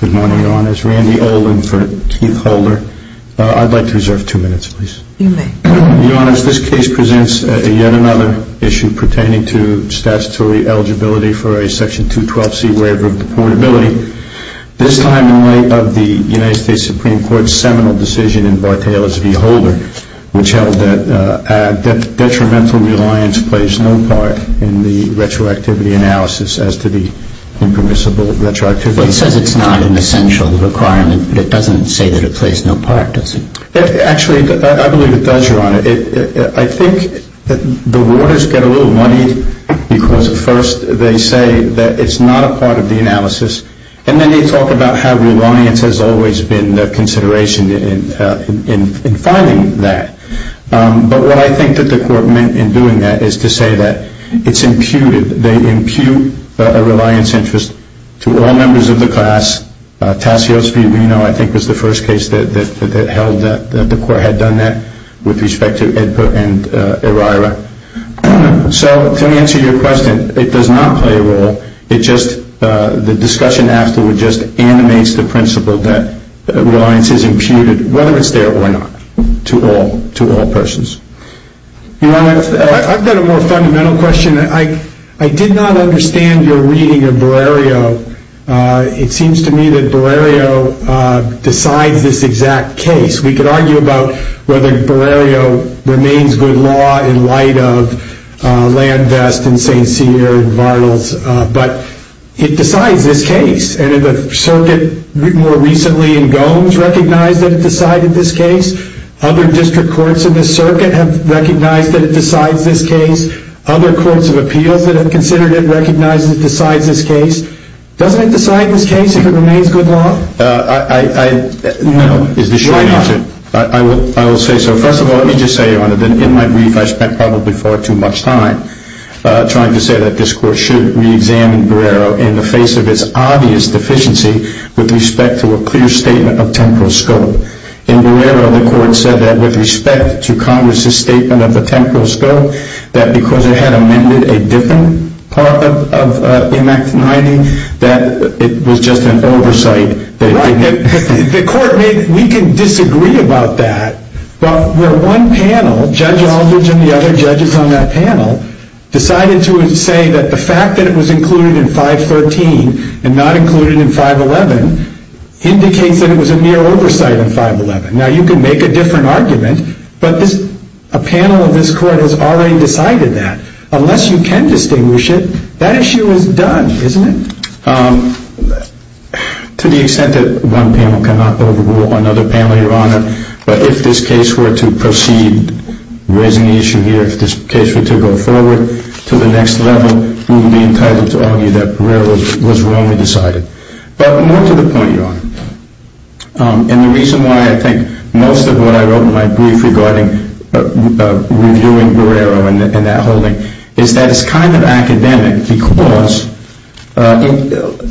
Good morning, Your Honors. Randy Olin for Keith Holder. I'd like to reserve two minutes, please. You may. Your Honors, this case presents yet another issue pertaining to statutory eligibility for a Section 212C waiver of deportability, this time in light of the United States Supreme Court's seminal decision in Bar-Taylor v. Holder, which held that detrimental reliance plays no part in the retroactivity analysis as to the impermissible retroactivity. Well, it says it's not an essential requirement, but it doesn't say that it plays no part, does it? Actually, I believe it does, Your Honor. I think the warders get a little money because, first, they say that it's not a part of the analysis, and then they talk about how reliance has always been a consideration in finding that. But what I think that the Court meant in doing that is to say that it's imputed. They impute a reliance interest to all members of the class. Tassios v. Reno, I think, was the first case that held that the Court had done that with respect to Edpert and Eryra. So, to answer your question, it does not play a role. The discussion afterward just animates the principle that reliance is imputed, whether it's there or not, to all persons. Your Honor, I've got a more fundamental question. I did not understand your reading of Bererio. It seems to me that Bererio decides this exact case. We could argue about whether Bererio remains good law in light of Landvest and St. Cyr and Varnles, but it decides this case. And the circuit more recently in Gomes recognized that it decided this case. Other district courts in the circuit have recognized that it decides this case. Other courts of appeals that have considered it recognize that it decides this case. Doesn't it decide this case if it remains good law? No, is the short answer. I will say so. First of all, let me just say, Your Honor, that in my brief I spent probably far too much time trying to say that this Court should reexamine Bererio in the face of its obvious deficiency with respect to a clear statement of temporal scope. In Bererio, the Court said that with respect to Congress's statement of the temporal scope, that because it had amended a different part of M.A.C. 90, that it was just an oversight. Right. The Court made it. We can disagree about that. But where one panel, Judge Aldridge and the other judges on that panel, decided to say that the fact that it was included in 513 and not included in 511 indicates that it was a mere oversight in 511. Now, you can make a different argument, but a panel of this Court has already decided that. Unless you can distinguish it, that issue is done, isn't it? To the extent that one panel cannot overrule another panel, Your Honor, but if this case were to proceed raising the issue here, if this case were to go forward to the next level, we would be entitled to argue that Bererio was wrongly decided. But more to the point, Your Honor. And the reason why I think most of what I wrote in my brief regarding reviewing Bererio in that holding is that it's kind of academic because,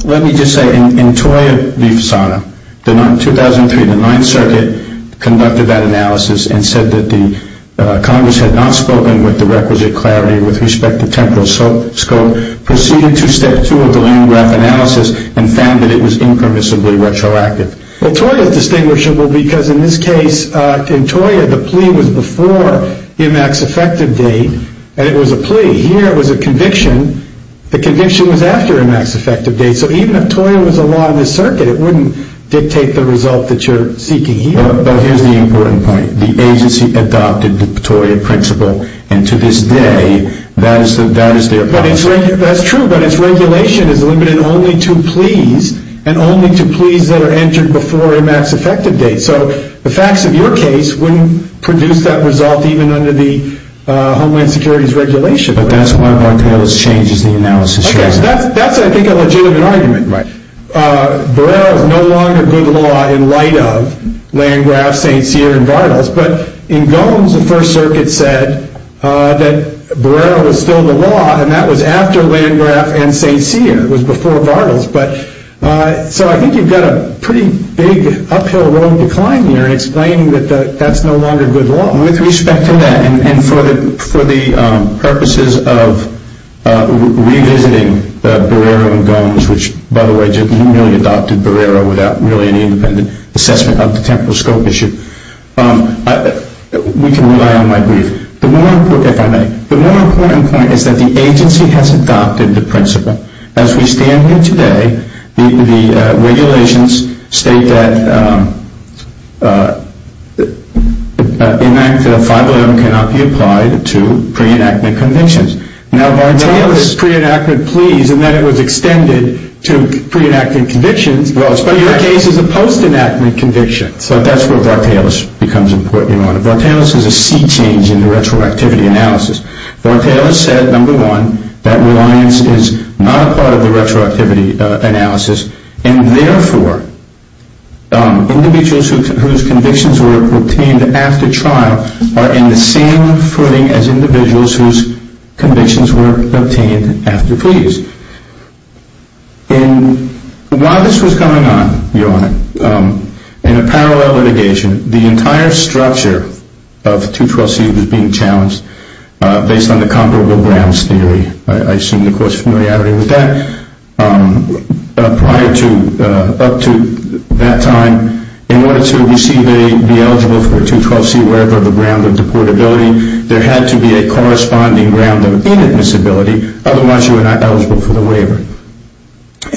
let me just say, in Toya v. Fasana, 2003, the Ninth Circuit conducted that analysis and said that the Congress had not spoken with the requisite clarity with respect to temporal scope, proceeded to Step 2 of the UNRAF analysis, and found that it was impermissibly retroactive. Well, Toya is distinguishable because in this case, in Toya, the plea was before IMAX effective date, and it was a plea. Here, it was a conviction. The conviction was after IMAX effective date, so even if Toya was a law in this circuit, it wouldn't dictate the result that you're seeking here. But here's the important point. The agency adopted the Toya principle, and to this day, that is their principle. That's true, but its regulation is limited only to pleas, and only to pleas that are entered before IMAX effective date. So the facts of your case wouldn't produce that result even under the Homeland Security's regulation. But that's why Bartelos changes the analysis. Okay, so that's, I think, a legitimate argument. Barrera is no longer good law in light of Landgraf, St. Cyr, and Bartelos, but in Gomes, the First Circuit said that Barrera was still the law, and that was after Landgraf and St. Cyr. It was before Bartelos. So I think you've got a pretty big uphill-rowing decline here in explaining that that's no longer good law. With respect to that, and for the purposes of revisiting Barrera and Gomes, which, by the way, just merely adopted Barrera without really any independent assessment of the temporal scope issue, we can rely on my brief. The more important point is that the agency has adopted the principle. As we stand here today, the regulations state that 511 cannot be applied to pre-enactment convictions. Now, Bartelos' pre-enactment pleas, and that it was extended to pre-enactment convictions, but your case is a post-enactment conviction. So that's where Bartelos becomes important. Bartelos is a sea change in the retroactivity analysis. Bartelos said, number one, that reliance is not a part of the retroactivity analysis, and therefore individuals whose convictions were obtained after trial are in the same footing as individuals whose convictions were obtained after pleas. While this was going on, Your Honor, in a parallel litigation, the entire structure of 212C was being challenged based on the comparable grounds theory. I assume the Court's familiarity with that. Prior to up to that time, in order to receive a, be eligible for a 212C waiver of the ground of deportability, there had to be a corresponding ground of inadmissibility.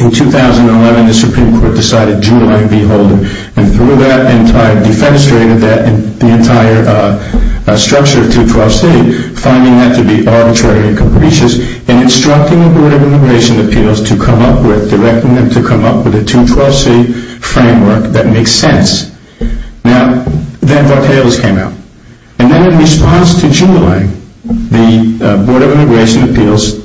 In 2011, the Supreme Court decided Juulang v. Holden, and through that, defenestrated the entire structure of 212C, finding that to be arbitrary and capricious, and instructing the Board of Immigration Appeals to come up with, directing them to come up with a 212C framework that makes sense. Now, then Bartelos came out. And then in response to Juulang, the Board of Immigration Appeals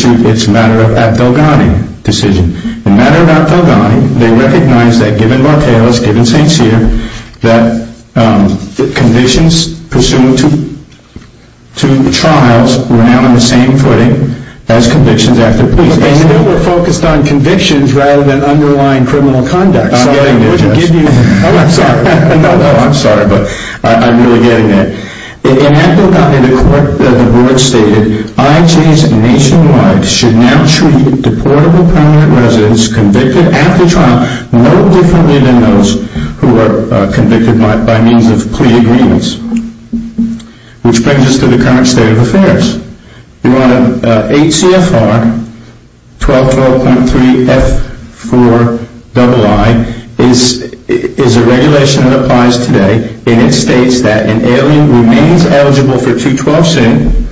issued its Matter of Apfelgani decision. In Matter of Apfelgani, they recognized that given Bartelos, given St. Cyr, that the conditions pursuant to trials were now in the same footing as convictions after pleas. But they were focused on convictions rather than underlying criminal conduct. I'm sorry, but I'm really getting there. In Apfelgani, the Board stated, IJs nationwide should now treat deportable permanent residents convicted after trial no differently than those who are convicted by means of plea agreements. HCFR 1212.3F4II is a regulation that applies today, and it states that an alien remains eligible for 212C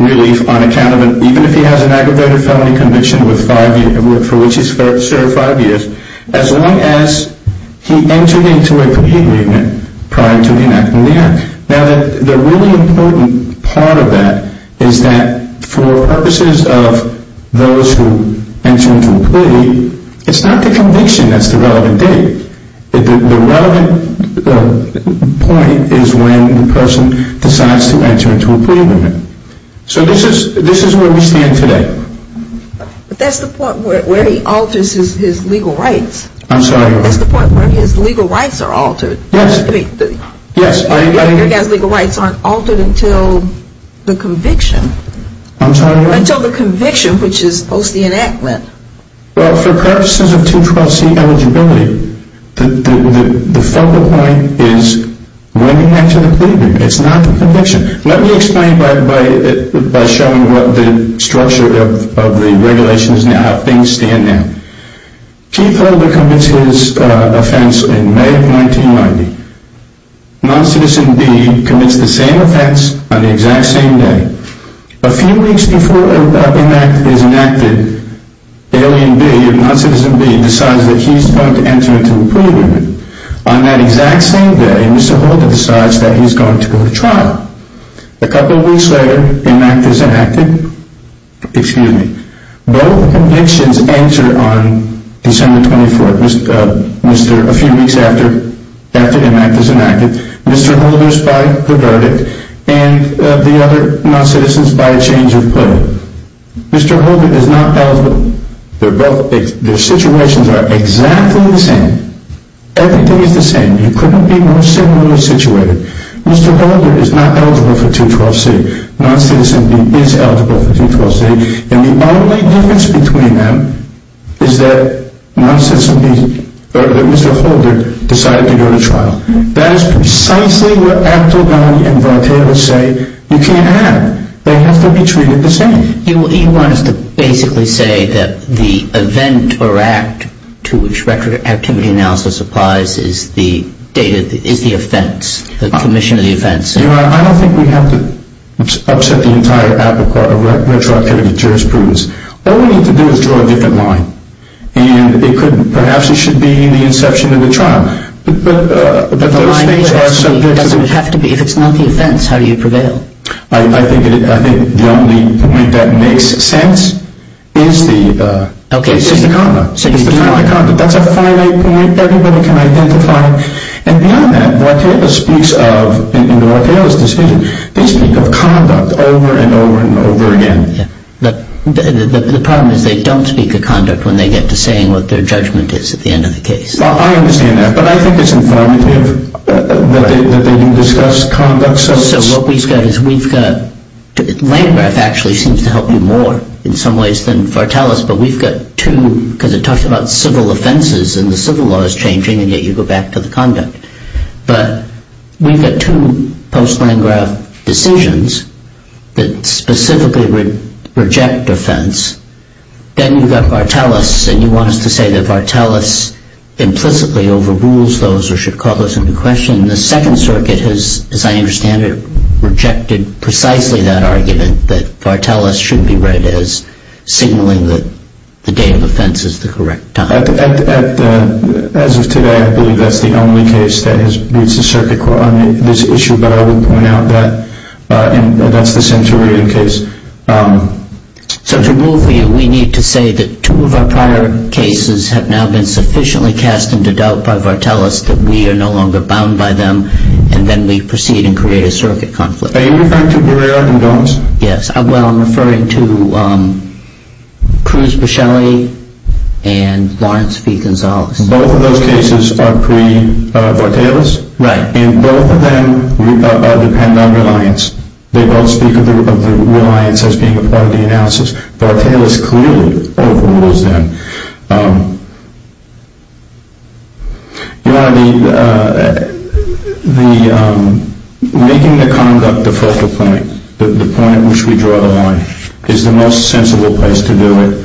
relief even if he has an aggravated felony conviction for which he's served five years, as long as he entered into a plea agreement prior to him acting there. Now, the really important part of that is that for purposes of those who enter into a plea, it's not the conviction that's the relevant date. The relevant point is when the person decides to enter into a plea agreement. So this is where we stand today. But that's the point where he alters his legal rights. I'm sorry? That's the point where his legal rights are altered. Yes. Your guys' legal rights aren't altered until the conviction. I'm sorry? Until the conviction, which is post the enactment. Well, for purposes of 212C eligibility, the focal point is when you enter the plea agreement. It's not the conviction. Let me explain by showing what the structure of the regulations now, things stand now. Keith Holder commits his offense in May of 1990. Non-citizen B commits the same offense on the exact same day. A few weeks before enactment is enacteded, alien B, non-citizen B, decides that he's going to enter into a plea agreement. On that exact same day, Mr. Holder decides that he's going to go to trial. A couple of weeks later, enactment is enacted. Excuse me. Both convictions enter on December 24th, a few weeks after enactment is enacteded, Mr. Holder's by the verdict and the other non-citizens by a change of plea. Mr. Holder is not eligible. Their situations are exactly the same. Everything is the same. You couldn't be more similarly situated. Mr. Holder is not eligible for 212C. Non-citizen B is eligible for 212C, and the only difference between them is that Mr. Holder decided to go to trial. That is precisely what Aptel, Downey, and Voltaire say you can't have. They have to be treated the same. You want us to basically say that the event or act to which record activity analysis applies is the offense, the commission of the offense. I don't think we have to upset the entire act of retroactivity jurisprudence. All we need to do is draw a different line, and perhaps it should be the inception of the trial. The line doesn't have to be. If it's not the offense, how do you prevail? I think the only point that makes sense is the content. That's a finite point that everybody can identify. And beyond that, Voltaire speaks of, in Voltaire's decision, they speak of conduct over and over and over again. The problem is they don't speak of conduct when they get to saying what their judgment is at the end of the case. I understand that, but I think it's informative that they do discuss conduct. So what we've got is we've got, Landgraf actually seems to help you more in some ways than Vartelis, but we've got two, because it talks about civil offenses, and the civil law is changing, and yet you go back to the conduct. But we've got two post-Landgraf decisions that specifically reject offense. Then you've got Vartelis, and you want us to say that Vartelis implicitly overrules those or should call those into question. The Second Circuit has, as I understand it, rejected precisely that argument, that Vartelis should be read as signaling that the date of offense is the correct time. As of today, I believe that's the only case that meets the circuit court on this issue, but I would point out that that's the Centurion case. So to rule for you, we need to say that two of our prior cases have now been sufficiently cast into doubt by Vartelis that we are no longer bound by them, and then we proceed and create a circuit conflict. Are you referring to Barrera and Gomes? Yes. Well, I'm referring to Cruz Buscelli and Lawrence v. Gonzalez. Both of those cases are pre-Vartelis? Right. And both of them depend on reliance. They both speak of the reliance as being a part of the analysis. Vartelis clearly overrules them. You know, making the conduct the focal point, the point at which we draw the line, is the most sensible place to do it.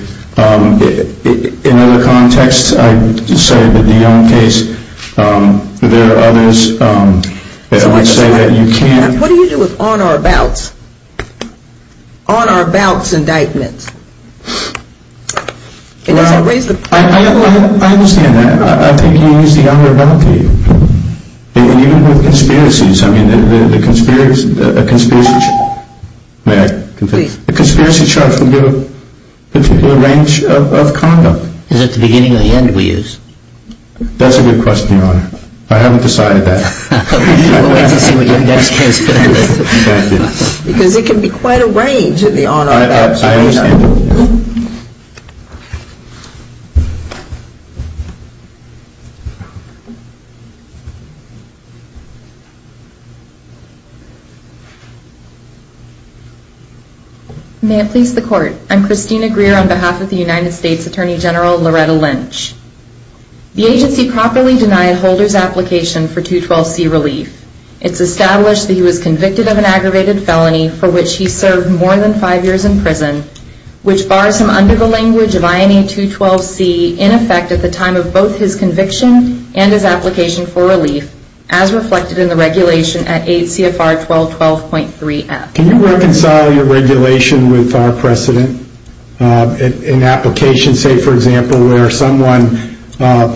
In other contexts, I would say that the Young case, there are others that would say that you can't What do you do with on-or-abouts? On-or-abouts indictments? Well, I understand that. I think you use the on-or-about key. And even with conspiracies, I mean, a conspiracy charge can give a particular range of conduct. Is it the beginning or the end we use? That's a good question, Your Honor. I haven't decided that. We'll wait to see what your next case presents. I understand. May it please the Court, I'm Christina Greer on behalf of the United States Attorney General Loretta Lynch. The agency properly denied Holder's application for 212C relief. It's established that he was convicted of an aggravated felony for which he served more than five years in prison, which bars him under the language of INA 212C in effect at the time of both his conviction and his application for relief, as reflected in the regulation at 8 CFR 1212.3F. Can you reconcile your regulation with our precedent? An application, say, for example, where someone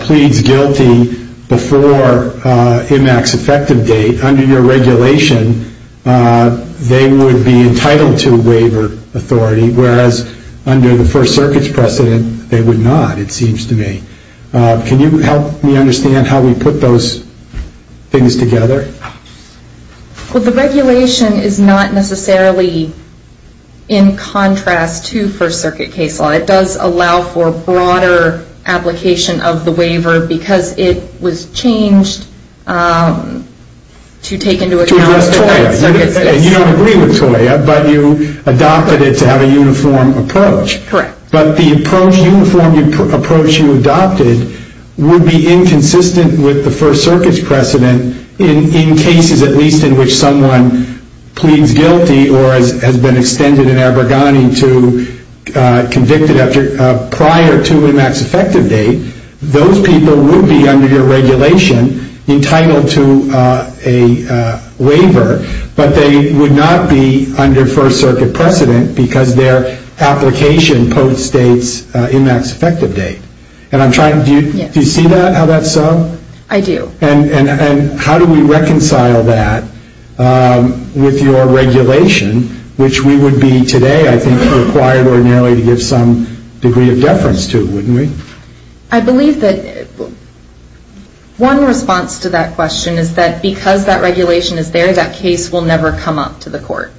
pleads guilty before IMAX effective date, under your regulation, they would be entitled to a waiver authority, whereas under the First Circuit's precedent, they would not, it seems to me. Can you help me understand how we put those things together? Well, the regulation is not necessarily in contrast to First Circuit case law. It does allow for broader application of the waiver, because it was changed to take into account the First Circuit's precedent. To address TOIA. You don't agree with TOIA, but you adopted it to have a uniform approach. Correct. But the approach, uniform approach you adopted, would be inconsistent with the First Circuit's precedent in cases, at least in which someone pleads guilty or has been extended in Abergani to convicted prior to IMAX effective date. Those people would be under your regulation entitled to a waiver, but they would not be under First Circuit precedent because their application post-dates IMAX effective date. Do you see how that's so? I do. And how do we reconcile that with your regulation, which we would be today, I think, required ordinarily to give some degree of deference to, wouldn't we? I believe that one response to that question is that because that regulation is there, that case will never come up to the court.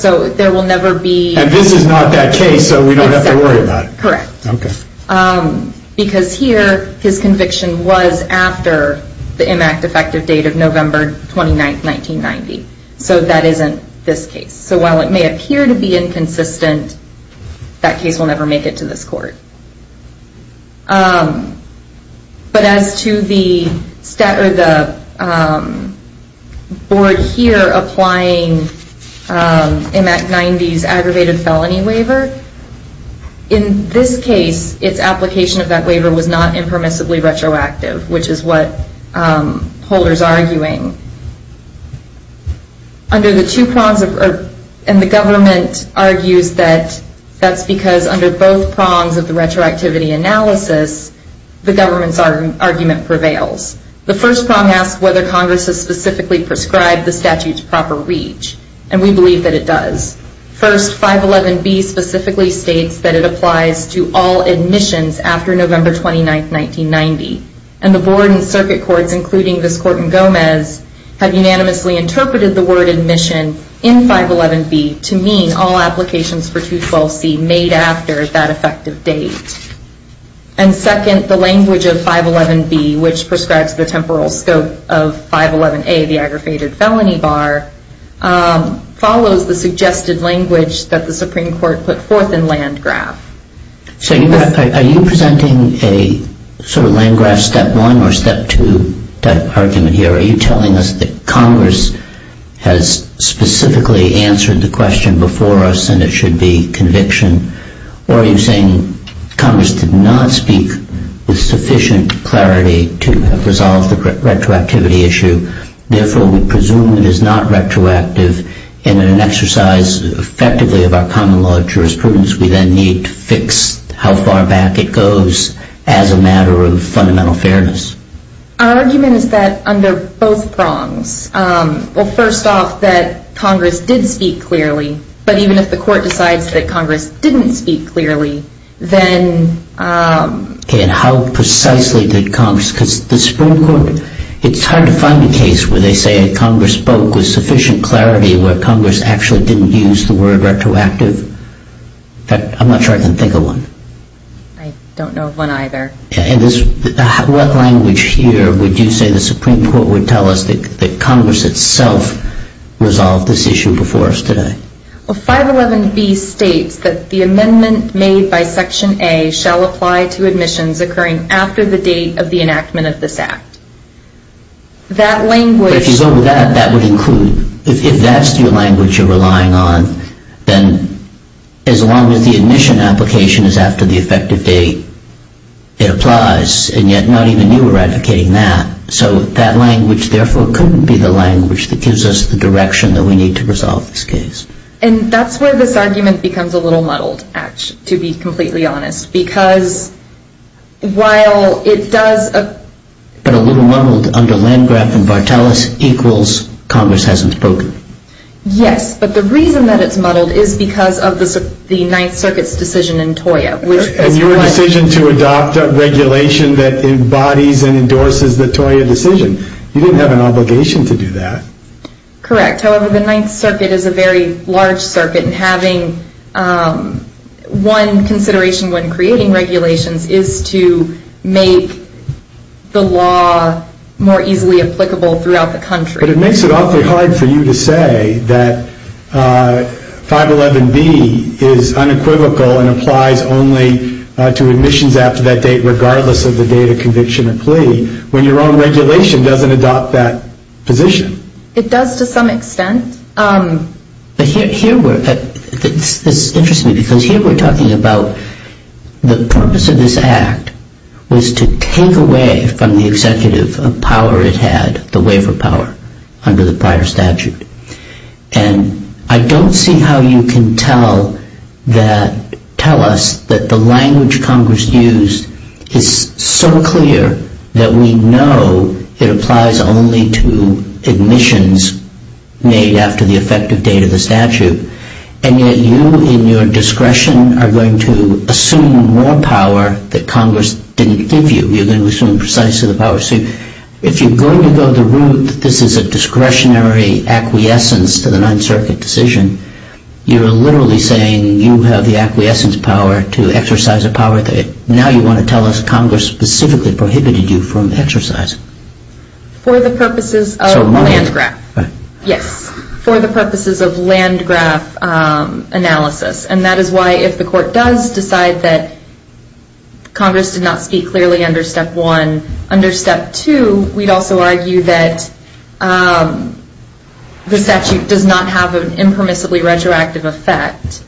So there will never be... And this is not that case, so we don't have to worry about it. Correct. Okay. Because here, his conviction was after the IMAX effective date of November 29, 1990. So that isn't this case. So while it may appear to be inconsistent, that case will never make it to this court. But as to the board here applying IMAX 90's aggravated felony waiver, in this case, its application of that waiver was not impermissibly retroactive, which is what Holder's arguing. Under the two prongs of... And the government argues that that's because under both prongs of the retroactivity analysis, the government's argument prevails. The first prong asks whether Congress has specifically prescribed the statute to proper reach. And we believe that it does. First, 511B specifically states that it applies to all admissions after November 29, 1990. And the board and circuit courts, including this court in Gomez, have unanimously interpreted the word admission in 511B to mean all applications for 212C made after that effective date. And second, the language of 511B, which prescribes the temporal scope of 511A, the aggravated felony bar, follows the suggested language that the Supreme Court put forth in Landgraf. So are you presenting a sort of Landgraf step one or step two argument here? Are you telling us that Congress has specifically answered the question before us and it should be conviction? Or are you saying Congress did not speak with sufficient clarity to resolve the retroactivity issue, therefore we presume it is not retroactive, and in an exercise effectively of our common law jurisprudence, we then need to fix how far back it goes as a matter of fundamental fairness? Our argument is that under both prongs. Well, first off, that Congress did speak clearly. But even if the court decides that Congress didn't speak clearly, then... Okay, and how precisely did Congress, because the Supreme Court, it's hard to find a case where they say Congress spoke with sufficient clarity where Congress actually didn't use the word retroactive. In fact, I'm not sure I can think of one. I don't know of one either. And what language here would you say the Supreme Court would tell us that Congress itself resolved this issue before us today? Well, 511B states that the amendment made by Section A shall apply to admissions occurring after the date of the enactment of this act. That language... But if you go with that, that would include, if that's the language you're relying on, then as long as the admission application is after the effective date, it applies, and yet not even you are advocating that. So that language, therefore, couldn't be the language that gives us the direction that we need to resolve this case. And that's where this argument becomes a little muddled, to be completely honest, because while it does... But a little muddled under Landgraf and Barteles equals Congress hasn't spoken. Yes, but the reason that it's muddled is because of the Ninth Circuit's decision in TOIA. And your decision to adopt a regulation that embodies and endorses the TOIA decision. You didn't have an obligation to do that. Correct. However, the Ninth Circuit is a very large circuit, and having one consideration when creating regulations is to make the law more easily applicable throughout the country. But it makes it awfully hard for you to say that 511B is unequivocal and applies only to admissions after that date, regardless of the date of conviction or plea, when your own regulation doesn't adopt that position. It does to some extent. But here we're... It's interesting because here we're talking about the purpose of this act was to take away from the executive a power it had, the waiver power, under the prior statute. And I don't see how you can tell us that the language Congress used is so clear that we know it applies only to admissions made after the effective date of the statute. And yet you, in your discretion, are going to assume more power that Congress didn't give you. You're going to assume precisely the power. So if you're going to go the route that this is a discretionary acquiescence to the Ninth Circuit decision, you're literally saying you have the acquiescence power to exercise a power. Now you want to tell us Congress specifically prohibited you from exercising. For the purposes of Landgraf. Yes, for the purposes of Landgraf analysis. And that is why if the court does decide that Congress did not speak clearly under Step 1, under Step 2 we'd also argue that the statute does not have an impermissibly retroactive effect.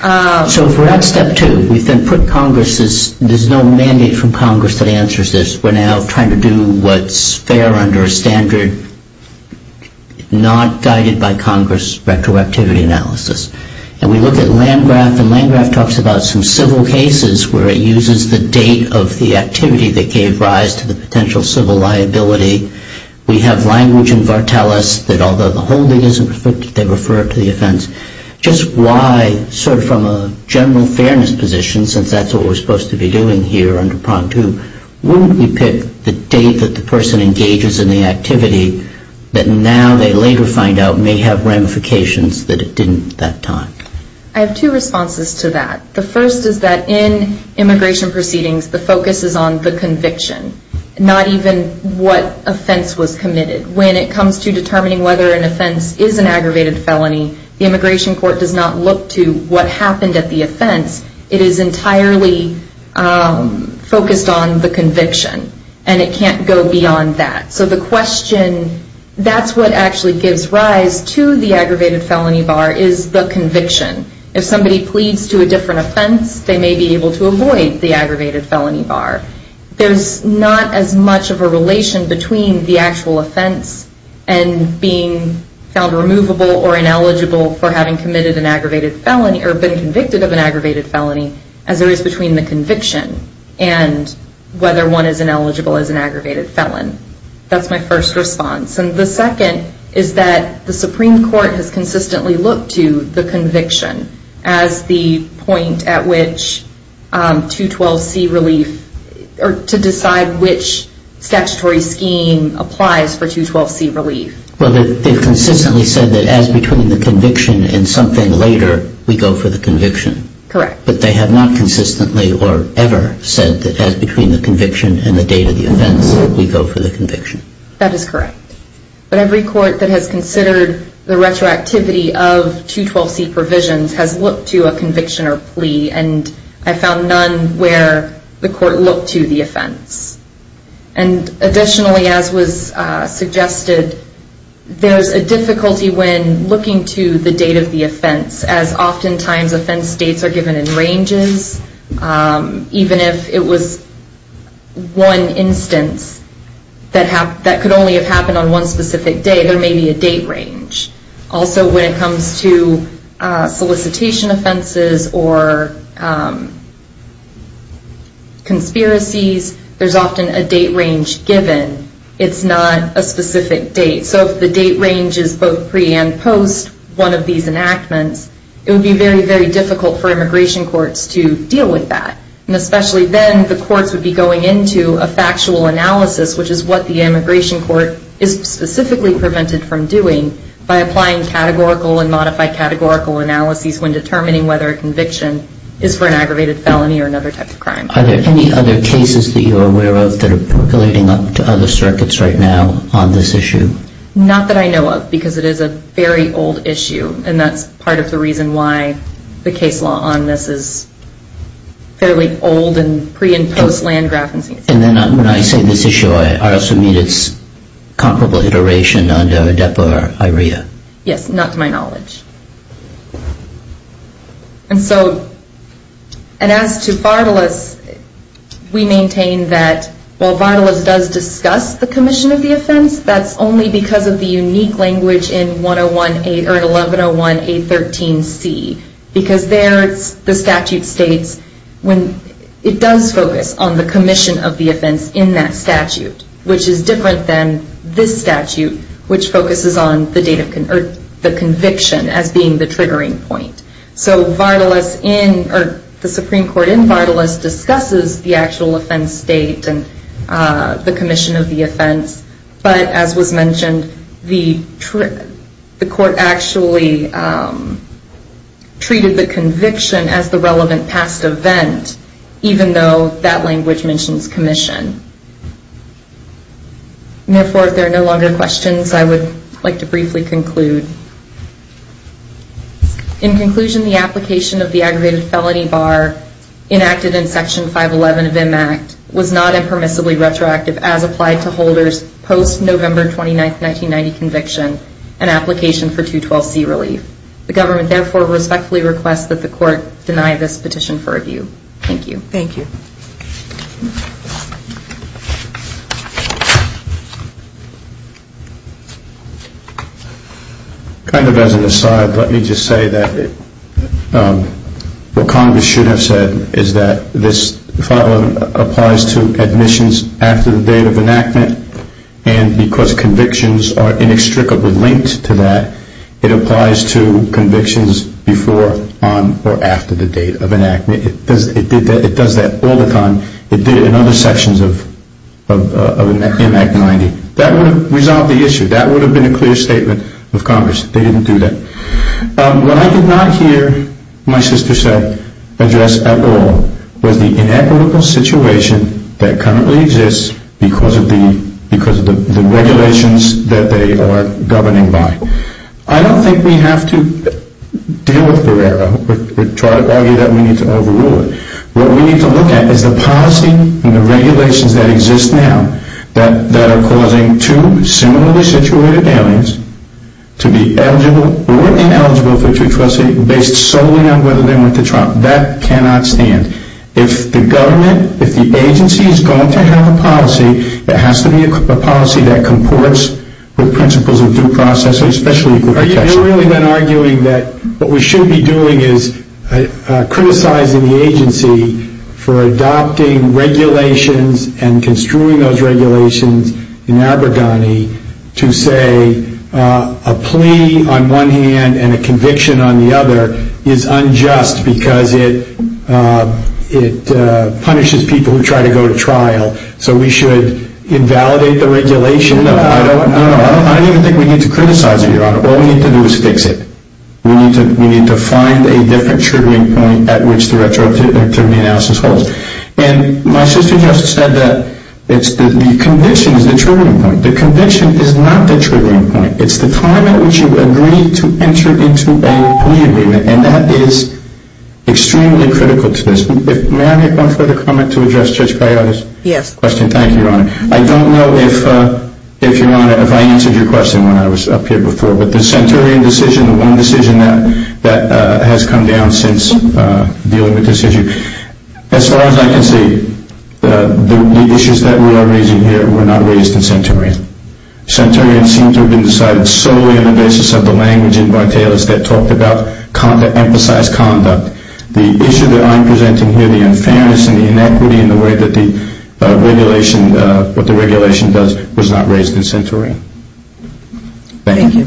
So if we're at Step 2, we've then put Congress's, there's no mandate from Congress that answers this. We're now trying to do what's fair under a standard not guided by Congress retroactivity analysis. And we look at Landgraf, and Landgraf talks about some civil cases where it uses the date of the activity that gave rise to the potential civil liability. We have language in Vartelis that although the holding isn't perfect, they refer it to the offense. Just why, sort of from a general fairness position, since that's what we're supposed to be doing here under Prompt 2, wouldn't we pick the date that the person engages in the activity that now they later find out may have ramifications that it didn't at that time? I have two responses to that. The first is that in immigration proceedings the focus is on the conviction, not even what offense was committed. When it comes to determining whether an offense is an aggravated felony, the immigration court does not look to what happened at the offense. It is entirely focused on the conviction, and it can't go beyond that. So the question, that's what actually gives rise to the aggravated felony bar is the conviction. If somebody pleads to a different offense, they may be able to avoid the aggravated felony bar. There's not as much of a relation between the actual offense and being found removable or ineligible for having committed an aggravated felony or been convicted of an aggravated felony as there is between the conviction and whether one is ineligible as an aggravated felon. That's my first response. And the second is that the Supreme Court has consistently looked to the conviction as the point at which 212C relief or to decide which statutory scheme applies for 212C relief. Well, they've consistently said that as between the conviction and something later, we go for the conviction. Correct. But they have not consistently or ever said that as between the conviction and the date of the offense, we go for the conviction. That is correct. But every court that has considered the retroactivity of 212C provisions has looked to a conviction or plea, and I found none where the court looked to the offense. And additionally, as was suggested, there's a difficulty when looking to the date of the offense as oftentimes offense dates are given in ranges, even if it was one instance that could only have happened on one specific day, there may be a date range. Also, when it comes to solicitation offenses or conspiracies, there's often a date range given. It's not a specific date. So if the date range is both pre and post one of these enactments, it would be very, very difficult for immigration courts to deal with that. And especially then, the courts would be going into a factual analysis, which is what the immigration court is specifically prevented from doing by applying categorical and modified categorical analyses when determining whether a conviction is for an aggravated felony or another type of crime. Are there any other cases that you're aware of that are percolating up to other circuits right now on this issue? Not that I know of, because it is a very old issue, and that's part of the reason why the case law on this is fairly old and pre- and post-Landgraf. And then when I say this issue, I also mean it's comparable iteration under ADEPA or IREA? Yes, not to my knowledge. And so, and as to Vardalos, we maintain that while Vardalos does discuss the commission of the offense, that's only because of the unique language in 1101A13C, because there it's the statute states when it does focus on the commission of the offense in that statute, which is different than this statute, which focuses on the date of the conviction as being the triggering point. So Vardalos in, or the Supreme Court in Vardalos discusses the actual offense state and the commission of the offense. But as was mentioned, the court actually treated the conviction as the relevant past event, even though that language mentions commission. And therefore, if there are no longer questions, I would like to briefly conclude. In conclusion, the application of the aggravated felony bar enacted in Section 511 of MACT was not impermissibly retroactive as applied to holders post-November 29, 1990 conviction and application for 212C relief. The government therefore respectfully requests that the court deny this petition for review. Thank you. Thank you. Kind of as an aside, let me just say that what Congress should have said is that this 511 applies to admissions after the date of enactment, and because convictions are inextricably linked to that, it applies to convictions before, on, or after the date of enactment. It does that all the time. It did it in other sections of MACT 90. That would have resolved the issue. That would have been a clear statement of Congress. They didn't do that. What I did not hear my sister say, address at all, was the inequitable situation that currently exists because of the regulations that they are governing by. I don't think we have to deal with Barrera or argue that we need to overrule it. What we need to look at is the policy and the regulations that exist now that are causing two similarly situated aliens to be eligible or ineligible for a true trustee based solely on whether they went to trial. That cannot stand. If the government, if the agency is going to have a policy, it has to be a policy that comports with principles of due process, especially equal protection. Are you really then arguing that what we should be doing is criticizing the agency for adopting regulations and construing those regulations in Aberdeen to say a plea on one hand and a conviction on the other is unjust because it punishes people who try to go to trial, so we should invalidate the regulation? No, I don't even think we need to criticize it, Your Honor. All we need to do is fix it. We need to find a different triggering point at which the retroactivity analysis holds. And my sister just said that the conviction is the triggering point. The conviction is not the triggering point. It's the time at which you agree to enter into a plea agreement. And that is extremely critical to this. May I make one further comment to address Judge Paiola's question? Yes. Thank you, Your Honor. I don't know if, Your Honor, if I answered your question when I was up here before, but the Centurion decision, the one decision that has come down since dealing with this issue, as far as I can see, the issues that we are raising here were not raised in Centurion. Centurion seems to have been decided solely on the basis of the language in Bar-Taylor's that talked about emphasized conduct. The issue that I'm presenting here, the unfairness and the inequity in the way that the regulation, what the regulation does, was not raised in Centurion. Thank you.